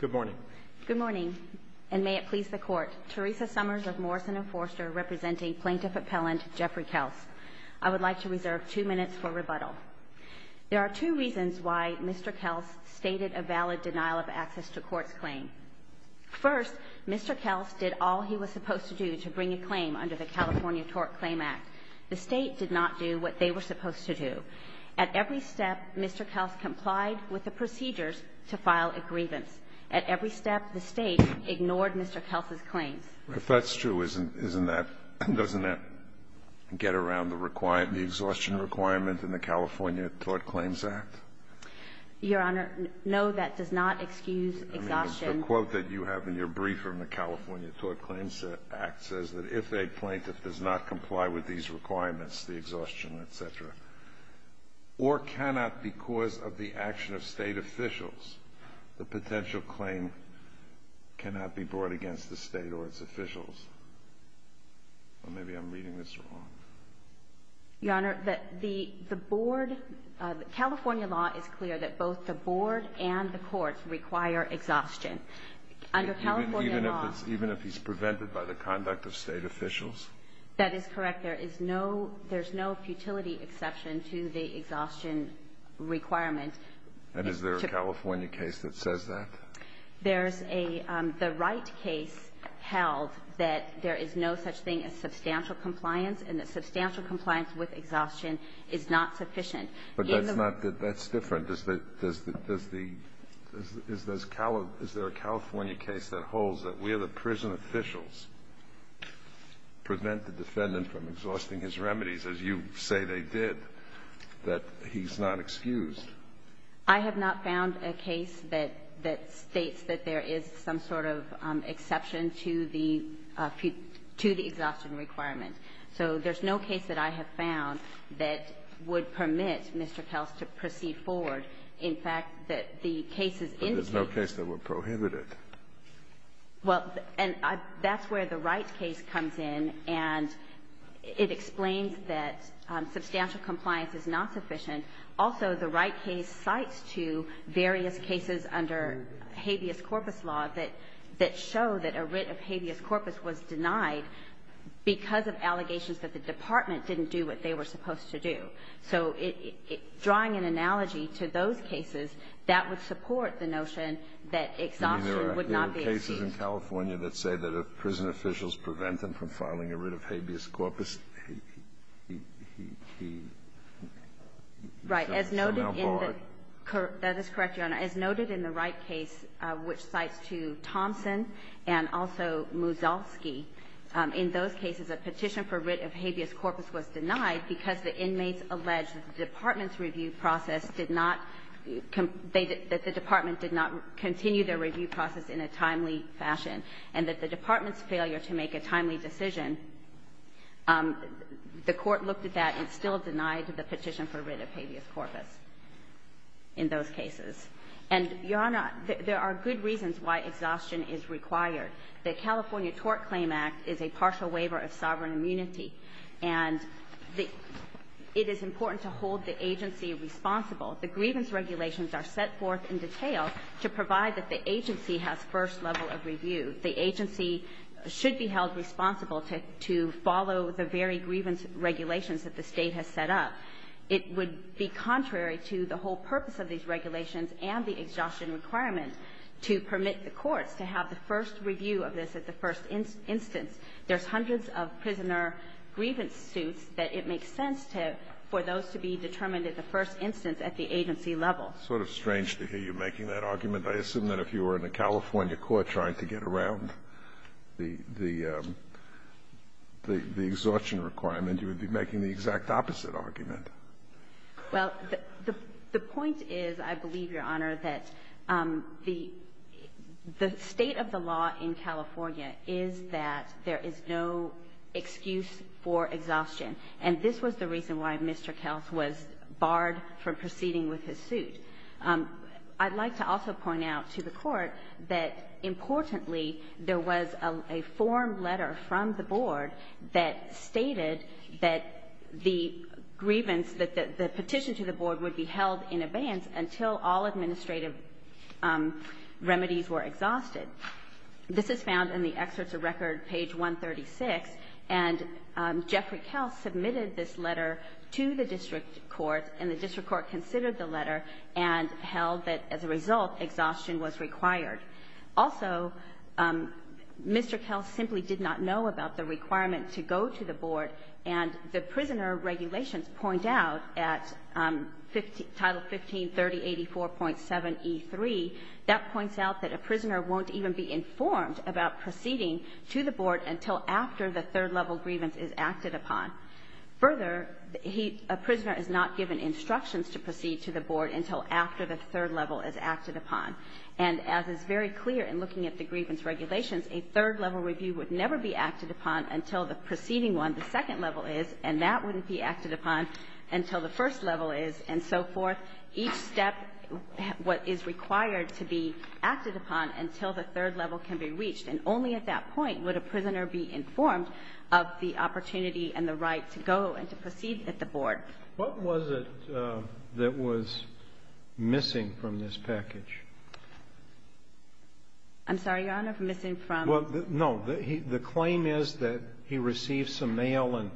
Good morning. Good morning. And may it please the court. Teresa Summers of Morrison & Forster, representing Plaintiff Appellant Jeffrey Kelce. I would like to reserve two minutes for rebuttal. There are two reasons why Mr. Kelce stated a valid denial of access to court's claim. First, Mr. Kelce did all he was supposed to do to bring a claim under the California TORC Claim Act. The state did not do what they were supposed to do. At every step, Mr. Kelce complied with the procedures to file a grievance. At every step, the state ignored Mr. Kelce's claims. If that's true, isn't that — doesn't that get around the exhaustion requirement in the California TORC Claims Act? Your Honor, no, that does not excuse exhaustion. I mean, the quote that you have in your brief from the California TORC Claims Act says that if a plaintiff does not comply with these requirements, the exhaustion, et cetera, or cannot because of the action of state officials, the potential claim cannot be brought against the state or its officials. Well, maybe I'm reading this wrong. Your Honor, the board — California law is clear that both the board and the courts require exhaustion. Under California law — Even if it's — even if he's prevented by the conduct of state officials? That is correct. There is no — there's no futility exception to the exhaustion requirement. And is there a California case that says that? There's a — the Wright case held that there is no such thing as substantial compliance and that substantial compliance with exhaustion is not sufficient. But that's not — that's different. Your Honor, does the — is there a California case that holds that where the prison officials prevent the defendant from exhausting his remedies, as you say they did, that he's not excused? I have not found a case that states that there is some sort of exception to the exhaustion requirement. So there's no case that I have found that would permit Mr. Kels to proceed forward. In fact, that the cases indicated — But there's no case that would prohibit it. Well, and that's where the Wright case comes in, and it explains that substantial compliance is not sufficient. Also, the Wright case cites two various cases under habeas corpus law that — that because of allegations that the department didn't do what they were supposed to do, so it — drawing an analogy to those cases, that would support the notion that exhaustion would not be excused. I mean, there are cases in California that say that if prison officials prevent them from filing a writ of habeas corpus, he — he — he somehow bore it? Right. As noted in the — that is correct, Your Honor. As noted in the Wright case, which cites two — Thompson and also Muzalski, in those cases a petition for writ of habeas corpus was denied because the inmates alleged that the department's review process did not — that the department did not continue their review process in a timely fashion, and that the department's failure to make a timely decision, the court looked at that and still denied the petition for writ of habeas corpus in those cases. And, Your Honor, there are good reasons why exhaustion is required. The California Tort Claim Act is a partial waiver of sovereign immunity, and the — it is important to hold the agency responsible. The grievance regulations are set forth in detail to provide that the agency has first level of review. The agency should be held responsible to — to follow the very grievance regulations that the State has set up. It would be contrary to the whole purpose of these regulations and the exhaustion requirement to permit the courts to have the first review of this at the first instance. There's hundreds of prisoner grievance suits that it makes sense to — for those to be determined at the first instance at the agency level. It's sort of strange to hear you making that argument. I assume that if you were in a California court trying to get around the — the — the exact opposite argument. Well, the — the point is, I believe, Your Honor, that the — the state of the law in California is that there is no excuse for exhaustion. And this was the reason why Mr. Kels was barred from proceeding with his suit. I'd like to also point out to the Court that, importantly, there was a — a formed letter from the board that stated that the grievance — that the petition to the board would be held in abeyance until all administrative remedies were exhausted. This is found in the excerpts of record, page 136. And Jeffrey Kels submitted this letter to the district court, and the district court considered the letter and held that, as a result, exhaustion was required. Also, Mr. Kels simply did not know about the requirement to go to the board, and the prisoner regulations point out at Title 153084.7e3, that points out that a prisoner won't even be informed about proceeding to the board until after the third-level grievance is acted upon. Further, he — a prisoner is not given instructions to proceed to the board until after the third level is acted upon. And as is very clear in looking at the grievance regulations, a third-level review would never be acted upon until the preceding one, the second level is, and that wouldn't be acted upon until the first level is, and so forth. Each step is required to be acted upon until the third level can be reached. And only at that point would a prisoner be informed of the opportunity and the right to go and to proceed at the board. What was it that was missing from this package? I'm sorry, Your Honor, missing from? Well, no. The claim is that he received some mail, and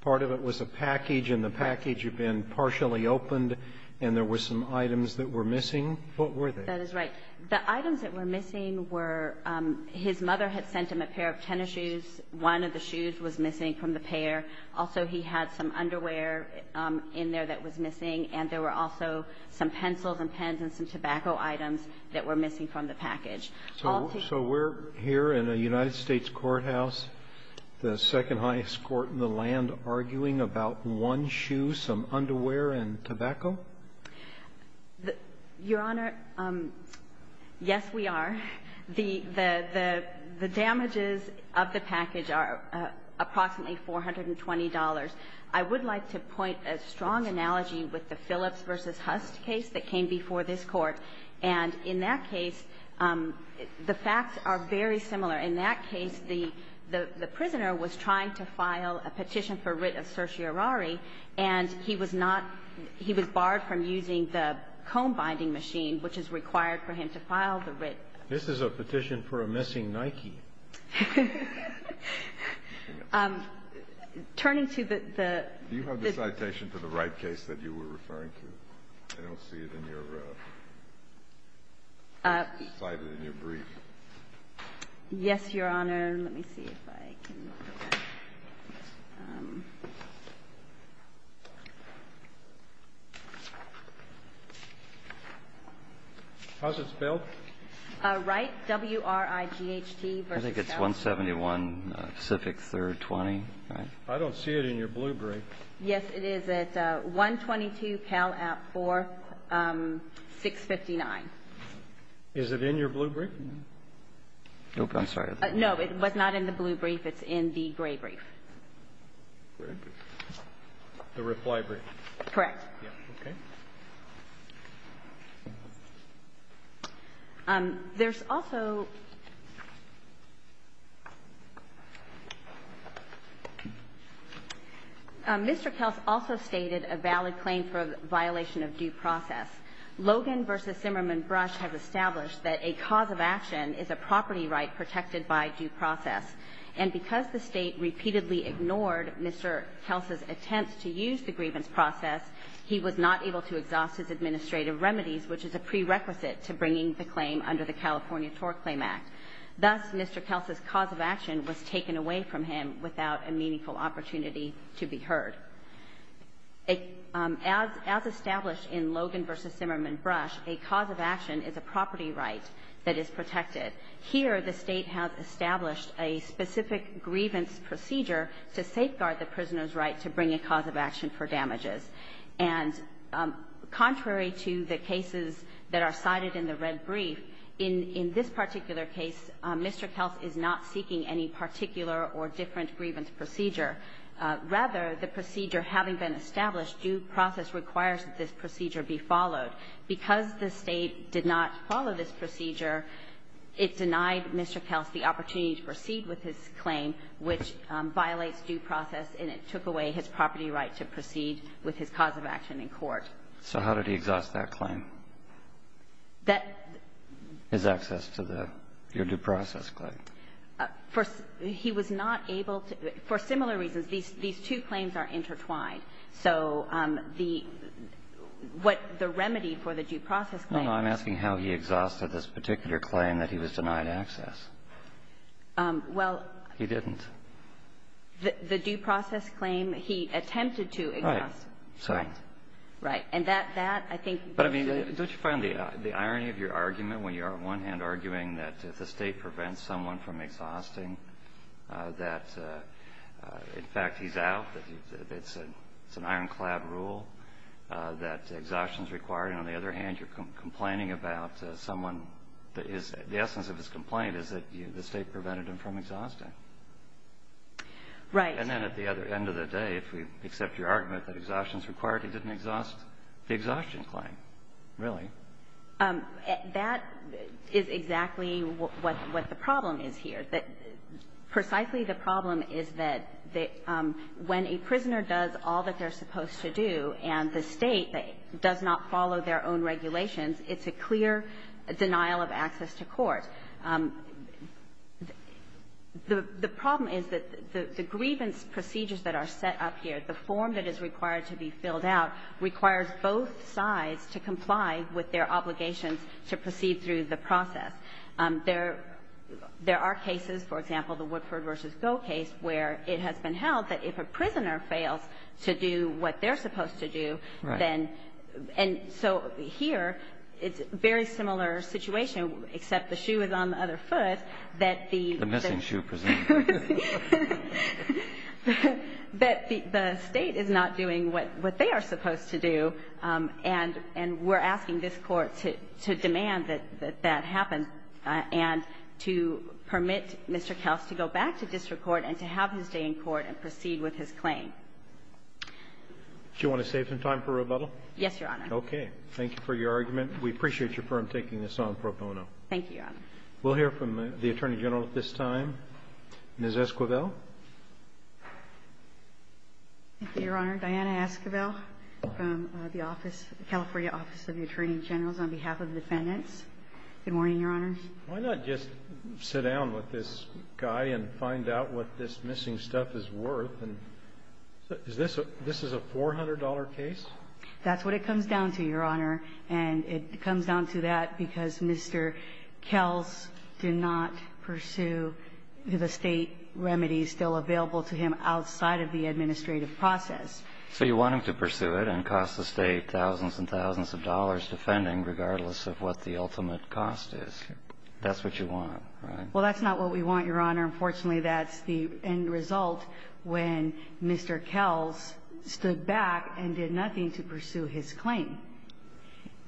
part of it was a package, and the package had been partially opened, and there were some items that were missing. What were they? That is right. The items that were missing were his mother had sent him a pair of tennis shoes. One of the shoes was missing from the pair. Also, he had some underwear in there that was missing, and there were also some pencils and pens and some tobacco items that were missing from the package. So we're here in a United States courthouse, the second highest court in the land, arguing about one shoe, some underwear, and tobacco? Your Honor, yes, we are. The damages of the package are approximately $420. I would like to point a strong analogy with the Phillips v. Hust case that came before this Court, and in that case, the facts are very similar. In that case, the prisoner was trying to file a petition for writ of certiorari, and he was not he was barred from using the comb binding machine, which is required for him to file the writ. This is a petition for a missing Nike. Turning to the... Do you have the citation for the right case that you were referring to? I don't see it in your... cited in your brief. Yes, Your Honor. Let me see if I can... How's it spelled? Wright, W-R-I-G-H-T. I think it's 171 Pacific 3rd 20. I don't see it in your blue brief. Yes, it is at 122 Cal App 4659. Is it in your blue brief? No, it was not in the blue brief. It's in the gray brief. The writ library. Correct. Okay. There's also Mr. Kelce also stated a valid claim for a violation of due process. Logan v. Zimmerman Brush has established that a cause of action is a property right protected by due process. And because the state repeatedly ignored Mr. Kelce's attempts to use the grievance process, he was not able to exhaust his administrative remedies, which is a prerequisite to bringing the claim under the California TORC Claim Act. Thus, Mr. Kelce's cause of action was taken away from him without a meaningful opportunity to be heard. As established in Logan v. Zimmerman Brush, a cause of action is a property right that is protected. Here, the State has established a specific grievance procedure to safeguard the prisoner's right to bring a cause of action for damages. And contrary to the cases that are cited in the red brief, in this particular case, Mr. Kelce is not seeking any particular or different grievance procedure. Rather, the procedure having been established, due process requires that this procedure be followed. Because the State did not follow this procedure, it denied Mr. Kelce the opportunity to proceed with his claim, which violates due process, and it took away his property right to proceed with his cause of action in court. So how did he exhaust that claim? That the ---- His access to the due process claim. He was not able to. For similar reasons, these two claims are intertwined. So the ---- what the remedy for the due process claim is ---- No, no. I'm asking how he exhausted this particular claim that he was denied access. Well ---- He didn't. The due process claim, he attempted to exhaust. Right. Right. And that, I think ---- But, I mean, don't you find the irony of your argument when you are, on one hand, arguing that if the State prevents someone from exhausting, that, in fact, he's out, that it's an ironclad rule that exhaustion is required? And on the other hand, you're complaining about someone that is ---- the essence of his complaint is that the State prevented him from exhausting. Right. And then at the other end of the day, if we accept your argument that exhaustion is required, he didn't exhaust the exhaustion claim, really. That is exactly what the problem is here. Precisely the problem is that when a prisoner does all that they're supposed to do and the State does not follow their own regulations, it's a clear denial of access to court. The problem is that the grievance procedures that are set up here, the form that is required to be filled out, requires both sides to comply with their obligations to proceed through the process. There are cases, for example, the Woodford v. Goh case, where it has been held that if a prisoner fails to do what they're supposed to do, then ---- Right. And so here, it's a very similar situation, except the shoe is on the other foot, that the ---- The missing shoe, presumably. But the State is not doing what they are supposed to do, and we're asking this Court to demand that that happen and to permit Mr. Kels to go back to district court and to have his day in court and proceed with his claim. Do you want to save some time for rebuttal? Yes, Your Honor. Okay. Thank you for your argument. We appreciate your firm taking this on pro bono. Thank you, Your Honor. We'll hear from the Attorney General at this time. Ms. Esquivel. Thank you, Your Honor. Diana Esquivel from the office, California Office of the Attorney General, on behalf of the defendants. Good morning, Your Honor. Why not just sit down with this guy and find out what this missing stuff is worth? And is this a ---- this is a $400 case? That's what it comes down to, Your Honor. And it comes down to that because Mr. Kels did not pursue the State remedies still available to him outside of the administrative process. So you want him to pursue it and cost the State thousands and thousands of dollars defending regardless of what the ultimate cost is. That's what you want, right? Well, that's not what we want, Your Honor. Unfortunately, that's the end result when Mr. Kels stood back and did nothing to pursue his claim.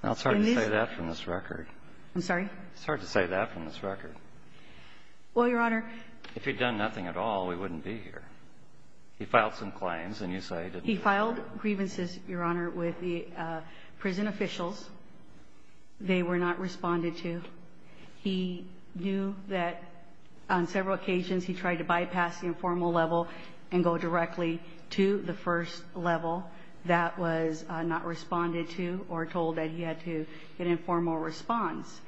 And this ---- It's hard to say that from this record. I'm sorry? It's hard to say that from this record. Well, Your Honor ---- If he'd done nothing at all, we wouldn't be here. He filed some claims and you say he didn't do anything. He filed grievances, Your Honor, with the prison officials. They were not responded to. He knew that on several occasions he tried to bypass the informal level and go directly to the first level. That was not responded to or told that he had to get an informal response.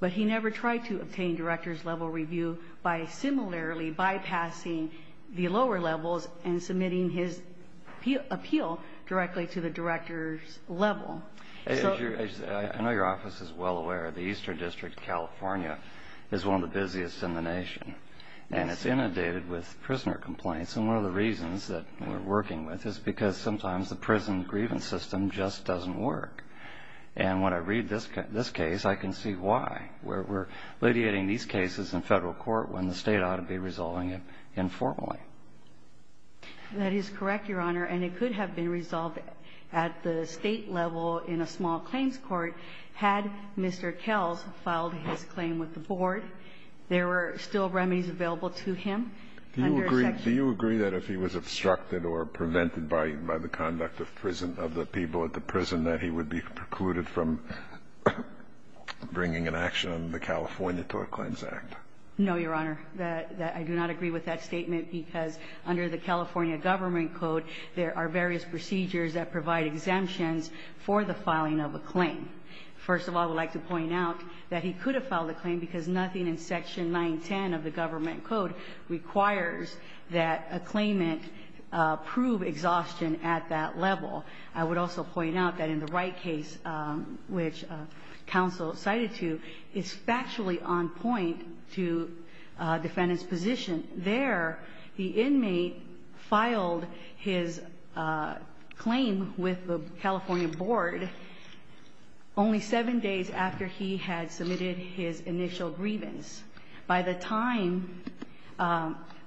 But he never tried to obtain director's level review by similarly bypassing the lower levels and submitting his appeal directly to the director's level. So ---- I know your office is well aware of the Eastern District, California, is one of the busiest in the nation. Yes. And it's inundated with prisoner complaints. And one of the reasons that we're working with is because sometimes the prison grievance system just doesn't work. And when I read this case, I can see why. We're alleviating these cases in Federal court when the State ought to be resolving it informally. That is correct, Your Honor. And it could have been resolved at the State level in a small claims court had Mr. Kells filed his claim with the Board. There were still remedies available to him under a section ---- Do you agree that if he was obstructed or prevented by the conduct of prison of the people at the prison, that he would be precluded from bringing an action on the California Tort Claims Act? No, Your Honor. I do not agree with that statement because under the California Government Code, there are various procedures that provide exemptions for the filing of a claim. First of all, I would like to point out that he could have filed a claim because nothing in Section 910 of the Government Code requires that a claimant prove exhaustion at that level. I would also point out that in the Wright case, which counsel cited to, it's factually on point to defendant's position. There, the inmate filed his claim with the California Board only seven days after he had submitted his initial grievance. By the time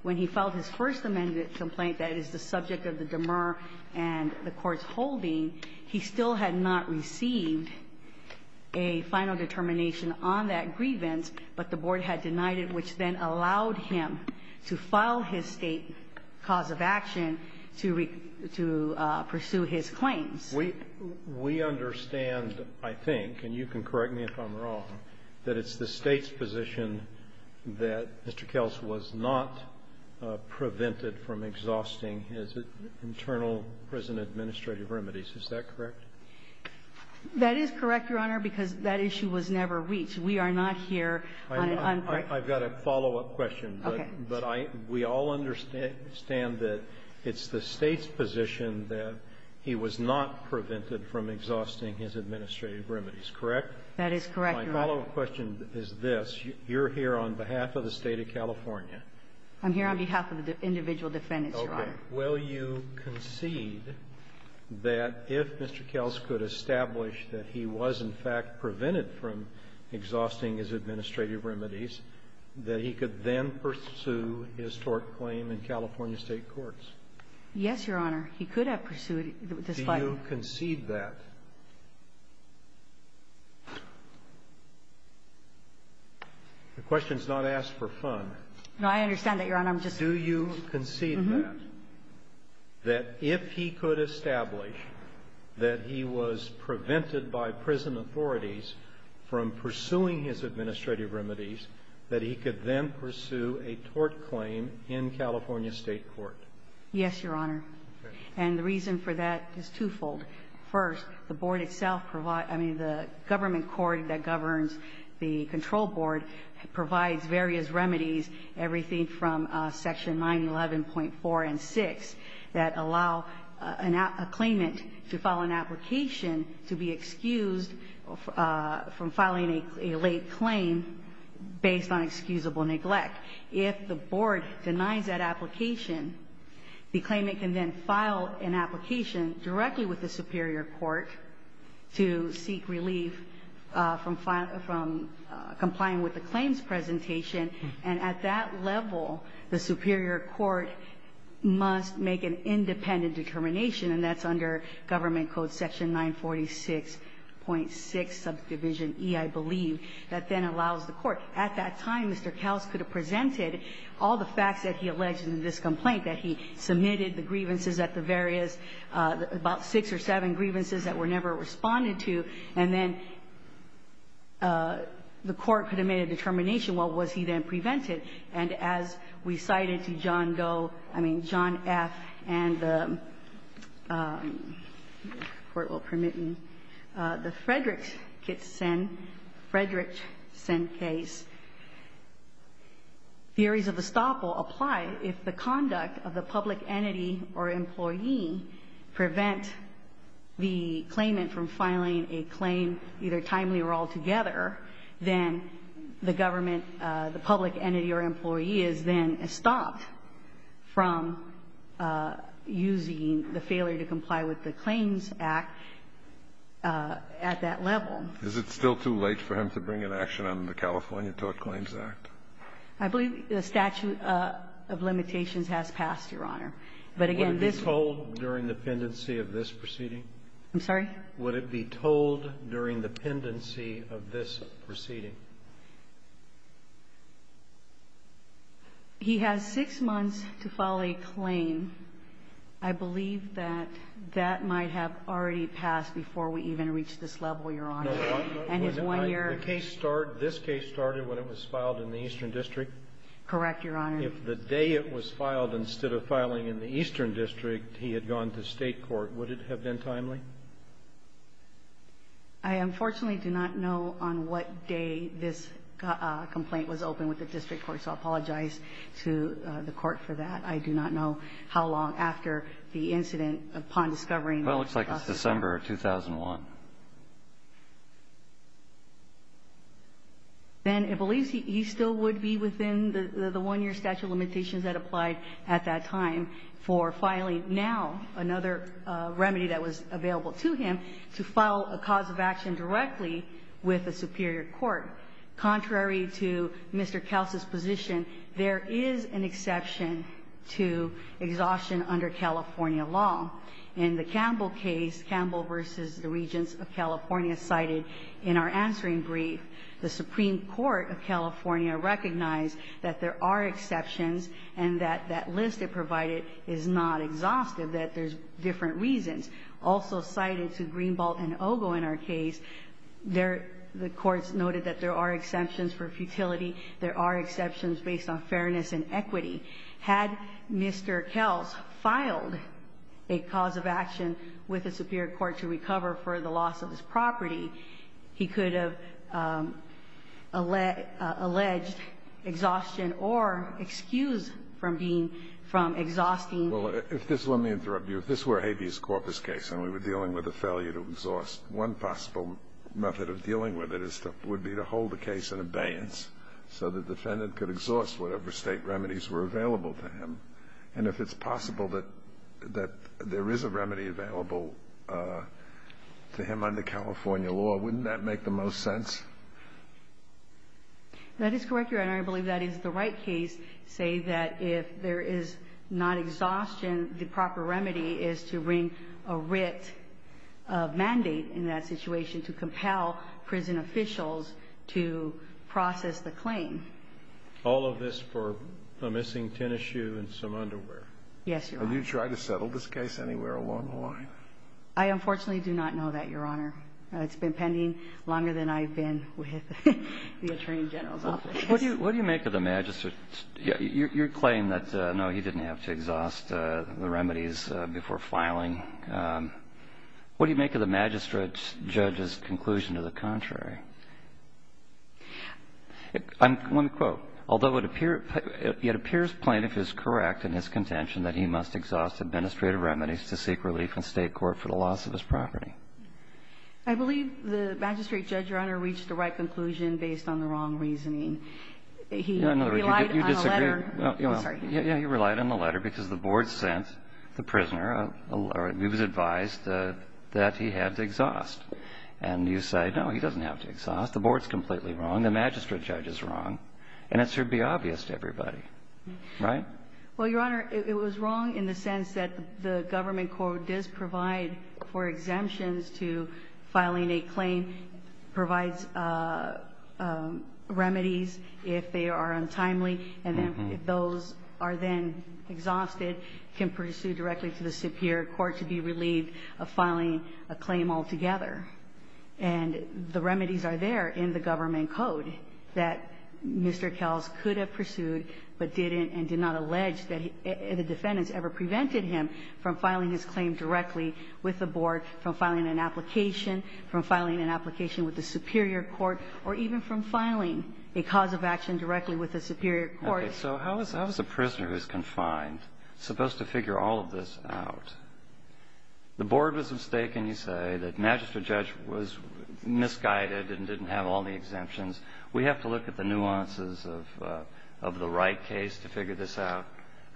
when he filed his first amended complaint that is the subject of the demur and the Court's holding, he still had not received a final determination on that grievance, but the Board had denied it, which then allowed him to file his State cause of action to pursue his claims. We understand, I think, and you can correct me if I'm wrong, that it's the State's position that Mr. Kels was not prevented from exhausting his internal prison administrative remedies, is that correct? That is correct, Your Honor, because that issue was never reached. We are not here on an uncorrected basis. I've got a follow-up question. Okay. But I we all understand that it's the State's position that he was not prevented from exhausting his administrative remedies, correct? That is correct, Your Honor. My follow-up question is this. You're here on behalf of the State of California. I'm here on behalf of the individual defendants, Your Honor. Okay. Will you concede that if Mr. Kels could establish that he was, in fact, prevented from exhausting his administrative remedies, that he could then pursue his tort claim in California State courts? Yes, Your Honor. He could have pursued it, despite the fact that he was prevented from doing so. Do you concede that? The question is not asked for fun. No, I understand that, Your Honor. I'm just saying. Do you concede that? Uh-huh. And the reason for that is twofold. First, the board itself provides the government court that governs the control board provides various remedies, everything from Section 911.4 and 6, that allow an application to be excused from filing a late claim based on excusable neglect. If the board denies that application, the claimant can then file an application directly with the superior court to seek relief from complying with the claims presentation. And at that level, the superior court must make an independent determination, and that's under Government Code Section 946.6, Subdivision E, I believe, that then allows the court. At that time, Mr. Kaus could have presented all the facts that he alleged in this complaint, that he submitted the grievances at the various, about six or seven grievances that were never responded to, and then the court could have made a determination what was he then prevented. And as we cited to John Goe, I mean, John F., and the, court will permit me, the Frederickson case, theories of the stop will apply if the conduct of the public entity or employee prevent the claimant from filing a claim either timely or altogether, then the government, the public entity or employee is then stopped from using the failure to comply with the Claims Act at that level. Is it still too late for him to bring an action on the California Tort Claims Act? I believe the statute of limitations has passed, Your Honor. But again, this one. Would it be told during the pendency of this proceeding? I'm sorry? Would it be told during the pendency of this proceeding? He has six months to file a claim. I believe that that might have already passed before we even reached this level, Your Honor. And his one year. The case started, this case started when it was filed in the Eastern District? Correct, Your Honor. If the day it was filed, instead of filing in the Eastern District, he had gone to State court, would it have been timely? I unfortunately do not know on what day this complaint was opened with the district court, so I apologize to the court for that. I do not know how long after the incident upon discovering. Well, it looks like it's December of 2001. Then it believes he still would be within the one-year statute of limitations that applied at that time for filing now another remedy that was available to him to file a cause of action directly with the superior court. Contrary to Mr. Kelce's position, there is an exception to exhaustion under California law. In the Campbell case, Campbell v. the Regents of California cited in our answering brief, the Supreme Court of California recognized that there are exceptions and that that list it provided is not exhaustive, that there's different reasons. Also cited to Greenbelt and Ogle in our case, the courts noted that there are exceptions for futility, there are exceptions based on fairness and equity. Had Mr. Kelce filed a cause of action with the superior court to recover for the loss of his property, he could have alleged exhaustion or excused from being exhausting. Well, let me interrupt you. If this were a habeas corpus case and we were dealing with a failure to exhaust, one possible method of dealing with it would be to hold the case in abeyance so the defendant could exhaust whatever State remedies were available to him. And if it's possible that there is a remedy available to him under California law, wouldn't that make the most sense? That is correct, Your Honor. I believe that is the right case to say that if there is not exhaustion, the proper remedy is to bring a writ of mandate in that situation to compel prison officials to process the claim. All of this for a missing tennis shoe and some underwear? Yes, Your Honor. Have you tried to settle this case anywhere along the line? I unfortunately do not know that, Your Honor. It's been pending longer than I've been with the Attorney General's office. What do you make of the magistrate's claim that, no, he didn't have to exhaust the remedies before filing? I'm going to quote. Although it appears plaintiff is correct in his contention that he must exhaust administrative remedies to seek relief in State court for the loss of his property. I believe the magistrate, Judge, Your Honor, reached the right conclusion based on the wrong reasoning. He relied on a letter. I'm sorry. Yeah, he relied on a letter because the board sent the prisoner, or he was advised that he had to exhaust. And you say, no, he doesn't have to exhaust. The board's completely wrong. The magistrate judge is wrong. And it should be obvious to everybody. Right? Well, Your Honor, it was wrong in the sense that the government court does provide for exemptions to filing a claim, provides remedies if they are untimely, and then if those are then exhausted, can pursue directly to the superior court to be relieved of filing a claim altogether. And the remedies are there in the government code that Mr. Kells could have pursued but didn't and did not allege that the defendants ever prevented him from filing his claim directly with the board, from filing an application, from filing an application with the superior court, or even from filing a cause of action directly with the superior court. Okay. So how is a prisoner who's confined supposed to figure all of this out? The board was mistaken, you say, that magistrate judge was misguided and didn't have all the exemptions. We have to look at the nuances of the right case to figure this out.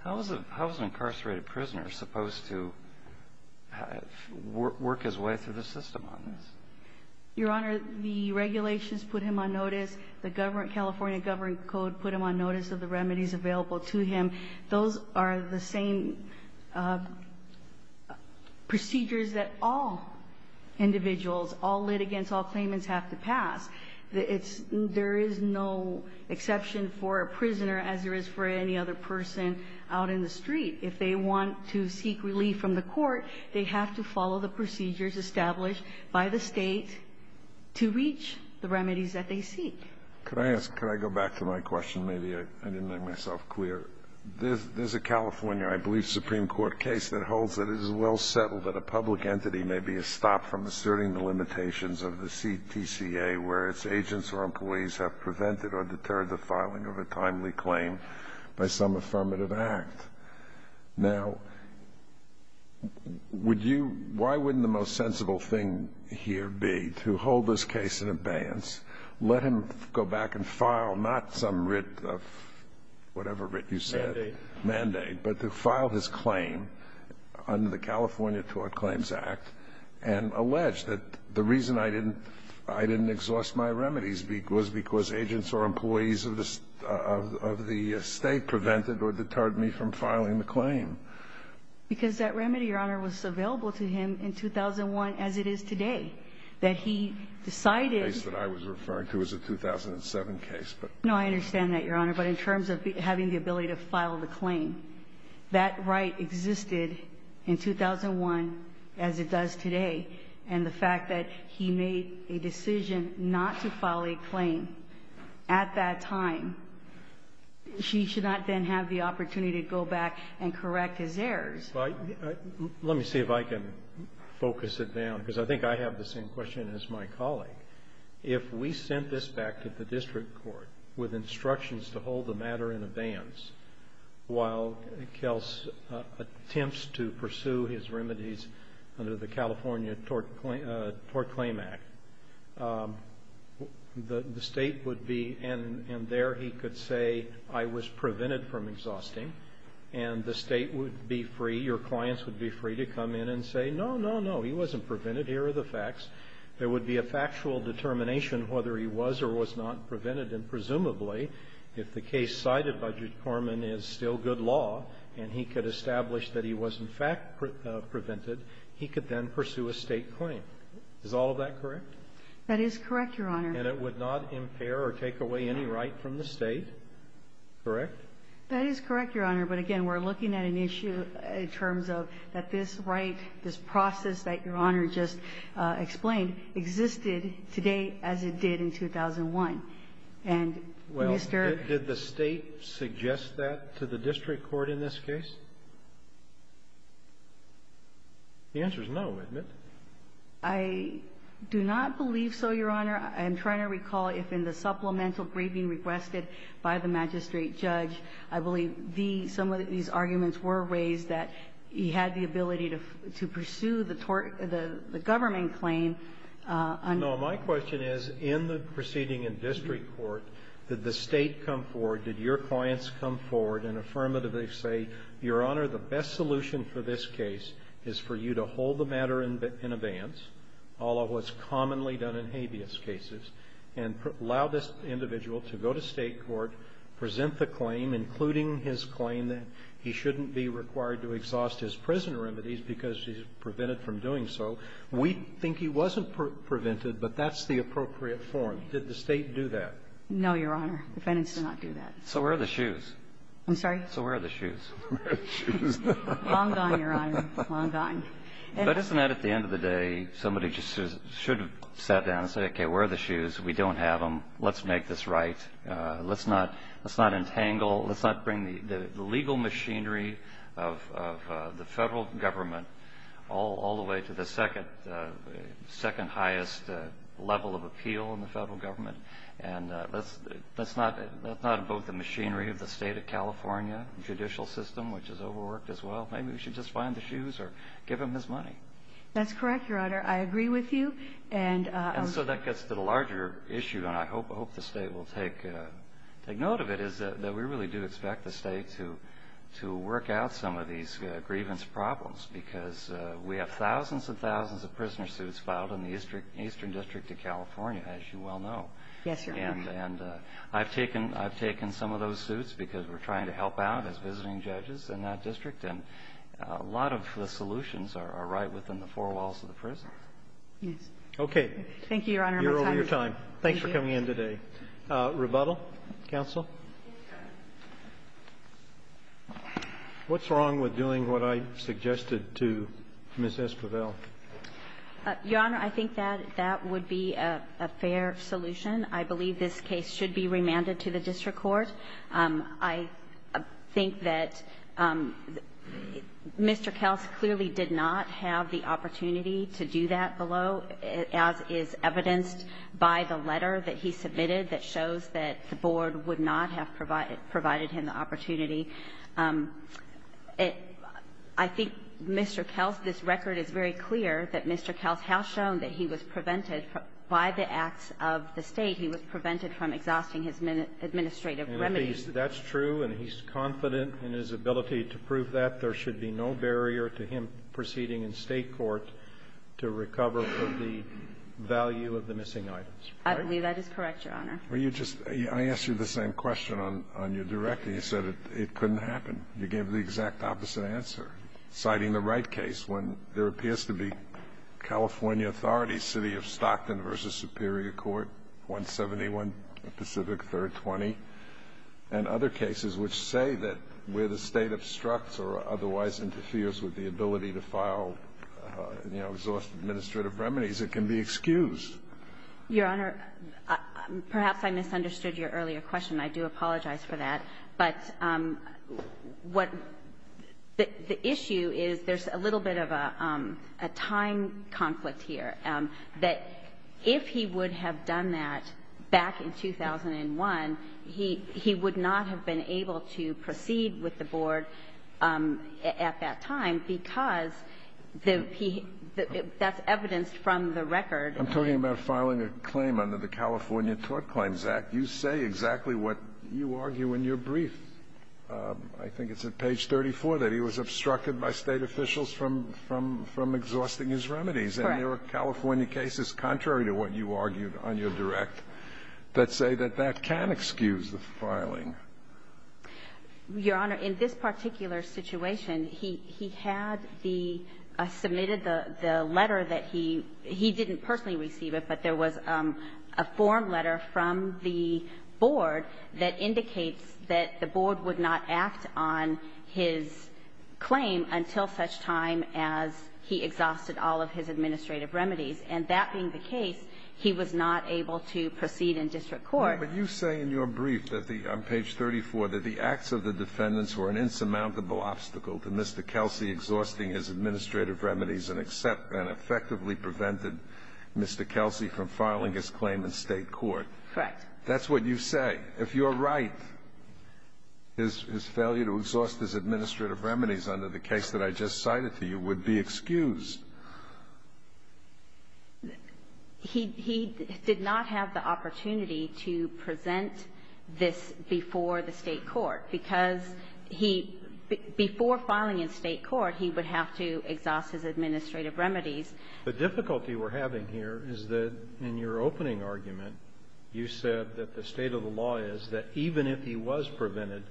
How is an incarcerated prisoner supposed to work his way through the system on this? Your Honor, the regulations put him on notice. The California government code put him on notice of the remedies available to him. Those are the same procedures that all individuals, all litigants, all claimants have to pass. There is no exception for a prisoner as there is for any other person out in the street. If they want to seek relief from the court, they have to follow the procedures established by the State to reach the remedies that they seek. Could I ask, could I go back to my question? Maybe I didn't make myself clear. There's a California, I believe, supreme court case that holds that it is well settled that a public entity may be stopped from asserting the limitations of the CTCA where its agents or employees have prevented or deterred the filing of a timely claim by some affirmative act. Now, would you, why wouldn't the most sensible thing here be to hold this case in abeyance, let him go back and file not some writ of whatever writ you said. Mandate. Mandate. But to file his claim under the California Tort Claims Act and allege that the reason I didn't exhaust my remedies was because agents or employees of the State prevented or deterred me from filing the claim. Because that remedy, Your Honor, was available to him in 2001 as it is today. That he decided. The case that I was referring to is a 2007 case, but. No, I understand that, Your Honor. But in terms of having the ability to file the claim, that right existed in 2001 as it does today. And the fact that he made a decision not to file a claim at that time, she should not then have the opportunity to go back and correct his errors. Let me see if I can focus it down, because I think I have the same question as my colleague. If we sent this back to the district court with instructions to hold the matter in abeyance while Kels attempts to pursue his remedies under the California Tort Claims Act, the State would be, and there he could say, I was prevented from exhausting, and the State would be free, your clients would be free to come in and say, no, no, no, he wasn't prevented. Here are the facts. There would be a factual determination whether he was or was not prevented. And presumably, if the case cited by Judge Corman is still good law and he could establish that he was, in fact, prevented, he could then pursue a State claim. Is all of that correct? That is correct, Your Honor. And it would not impair or take away any right from the State, correct? That is correct, Your Honor. But again, we're looking at an issue in terms of that this right, this process that Your Honor just explained, existed today as it did in 2001. And Mr. ---- Well, did the State suggest that to the district court in this case? The answer is no, isn't it? I do not believe so, Your Honor. I'm trying to recall if in the supplemental briefing requested by the magistrate judge, I believe the ---- some of these arguments were raised that he had the ability to pursue the tort ---- the government claim. No. My question is, in the proceeding in district court, did the State come forward? Did your clients come forward and affirmatively say, Your Honor, the best solution for this case is for you to hold the matter in advance, all of what's commonly done in habeas cases, and allow this individual to go to State court, present the claim, including his claim that he shouldn't be required to exhaust his prison remedies because he's prevented from doing so? We think he wasn't prevented, but that's the appropriate form. Did the State do that? No, Your Honor. Defendants did not do that. So where are the shoes? I'm sorry? So where are the shoes? Where are the shoes? Long gone, Your Honor. Long gone. But isn't that, at the end of the day, somebody just should have sat down and said, Okay, where are the shoes? We don't have them. Let's make this right. Let's not entangle ---- let's not bring the legal machinery of the Federal Government all the way to the second highest level of appeal in the Federal Government. And let's not invoke the machinery of the State of California judicial system, which is overworked as well. Maybe we should just find the shoes or give him his money. That's correct, Your Honor. I agree with you. And I'll say ---- And so that gets to the larger issue, and I hope the State will take note of it, is that we really do expect the State to work out some of these grievance problems, because we have thousands and thousands of prisoner suits filed in the Eastern District of California, as you well know. Yes, Your Honor. And I've taken some of those suits because we're trying to help out as visiting judges in that district, and a lot of the solutions are right within the four walls of the prison. Yes. Okay. Thank you, Your Honor. You're over your time. Thanks for coming in today. Thank you. Rebuttal? Counsel? Yes, sir. What's wrong with doing what I suggested to Ms. Esquivel? Your Honor, I think that that would be a fair solution. I believe this case should be remanded to the district court. I think that Mr. Kels clearly did not have the opportunity to do that below, as is evidenced by the letter that he submitted that shows that the board would not have provided him the opportunity. I think Mr. Kels, this record is very clear that Mr. Kels has shown that he was prevented by the acts of the State. He was prevented from exhausting his administrative remedies. And that's true, and he's confident in his ability to prove that. There should be no barrier to him proceeding in State court to recover the value of the missing items. I believe that is correct, Your Honor. Were you just – I asked you the same question on your directing. You said it couldn't happen. You gave the exact opposite answer, citing the Wright case when there appears to be California authorities, City of Stockton v. Superior Court, 171 Pacific 3rd 20, and other cases which say that where the State obstructs or otherwise interferes with the ability to file, you know, exhaust administrative remedies, it can be excused. Your Honor, perhaps I misunderstood your earlier question. I do apologize for that. But what – the issue is there's a little bit of a time conflict here, that if he would have done that back in 2001, he would not have been able to proceed with the board at that time because the – that's evidenced from the record. I'm talking about filing a claim under the California Tort Claims Act. You say exactly what you argue in your brief. I think it's at page 34 that he was obstructed by State officials from – from exhausting his remedies. Correct. And there are California cases contrary to what you argued on your direct that say that that can excuse the filing. Your Honor, in this particular situation, he – he had the – submitted the letter that he – he didn't personally receive it, but there was a form letter from the board that indicates that the board would not act on his claim until such time as he exhausted all of his administrative remedies. And that being the case, he was not able to proceed in district court. But you say in your brief that the – on page 34, that the acts of the defendants were an insurmountable obstacle to Mr. Kelsey exhausting his administrative remedies and effectively prevented Mr. Kelsey from filing his claim in State court. That's what you say. If you're right, his – his failure to exhaust his administrative remedies under the case that I just cited to you would be excused. He – he did not have the opportunity to present this before the State court, because he – before filing in State court, he would have to exhaust his administrative remedies. The difficulty we're having here is that in your opening argument, you said that the state of the law is that even if he was prevented,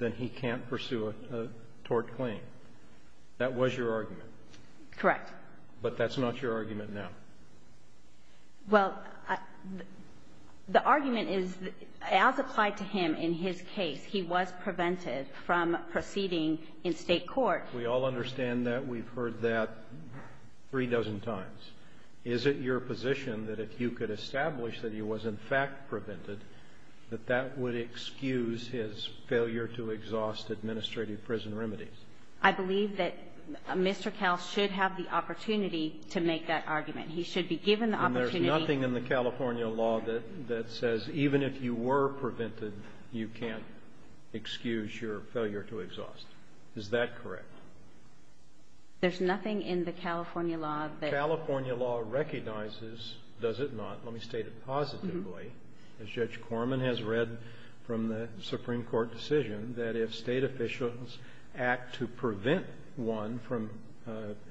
then he can't pursue a tort claim. That was your argument. Correct. But that's not your argument now. Well, the argument is, as applied to him in his case, he was prevented from proceeding in State court. We all understand that. We've heard that three dozen times. Is it your position that if you could establish that he was, in fact, prevented, that that would excuse his failure to exhaust administrative prison remedies? I believe that Mr. Kelsey should have the opportunity to make that argument. He should be given the opportunity. And there's nothing in the California law that says even if you were prevented, you can't excuse your failure to exhaust. Is that correct? There's nothing in the California law that — California law recognizes, does it not, let me state it positively, as Judge Corman has read from the Supreme Court decision, that if State officials act to prevent one from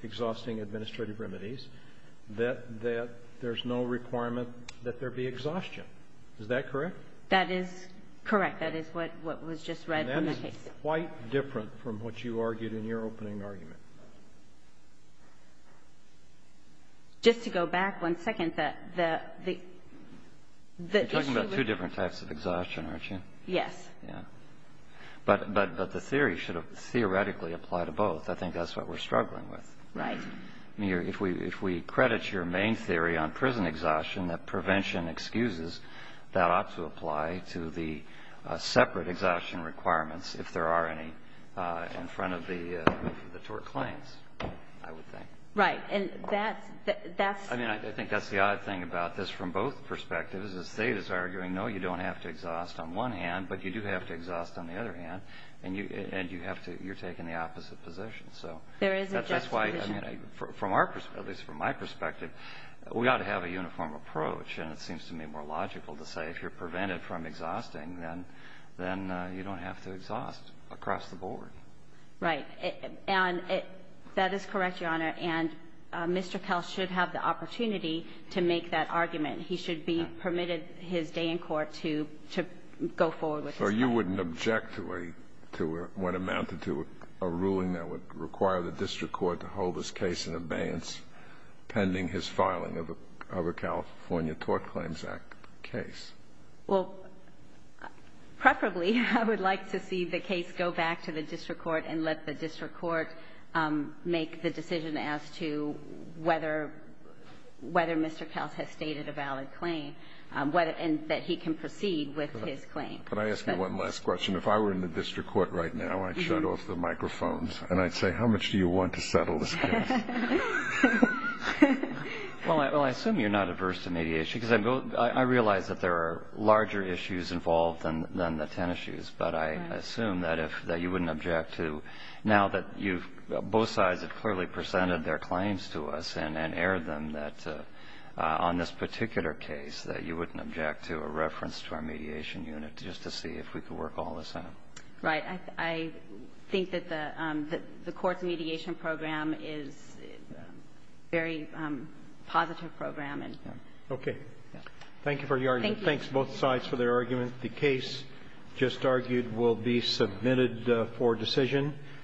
exhausting administrative remedies, that there's no requirement that there be exhaustion. Is that correct? That is correct. That is what was just read from the case. It's quite different from what you argued in your opening argument. Just to go back one second, the — You're talking about two different types of exhaustion, aren't you? Yes. Yeah. But the theory should have theoretically applied to both. I think that's what we're struggling with. Right. I mean, if we credit your main theory on prison exhaustion, that prevention excuses, that ought to apply to the separate exhaustion requirements, if there are any, in front of the tort claims, I would think. Right. And that's — I mean, I think that's the odd thing about this from both perspectives, is that State is arguing, no, you don't have to exhaust on one hand, but you do have to exhaust on the other hand, and you have to — you're taking the opposite position. There is a juxtaposition. So that's why, I mean, from our — at least from my perspective, we ought to have a uniform approach. And it seems to me more logical to say if you're prevented from exhausting, then you don't have to exhaust across the board. Right. And that is correct, Your Honor, and Mr. Kell should have the opportunity to make that argument. He should be permitted his day in court to go forward with his claim. So you wouldn't object to a — to what amounted to a ruling that would require the district court to hold his case in abeyance pending his filing of a California Tort Claims Act case? Well, preferably I would like to see the case go back to the district court and let the district court make the decision as to whether — whether Mr. Kells has stated a valid claim, and that he can proceed with his claim. Could I ask you one last question? If I were in the district court right now, I'd shut off the microphones and I'd say, how much do you want to settle this case? Well, I assume you're not averse to mediation because I realize that there are larger issues involved than the 10 issues, but I assume that if — that you wouldn't object to — now that you've — both sides have clearly presented their claims to us and aired them that on this particular case that you wouldn't object to a reference to our mediation unit just to see if we could work all this out. Right. I think that the court's mediation program is a very positive program. Okay. Thank you for your argument. Thank you. Thanks, both sides, for their argument. The case just argued will be submitted for decision.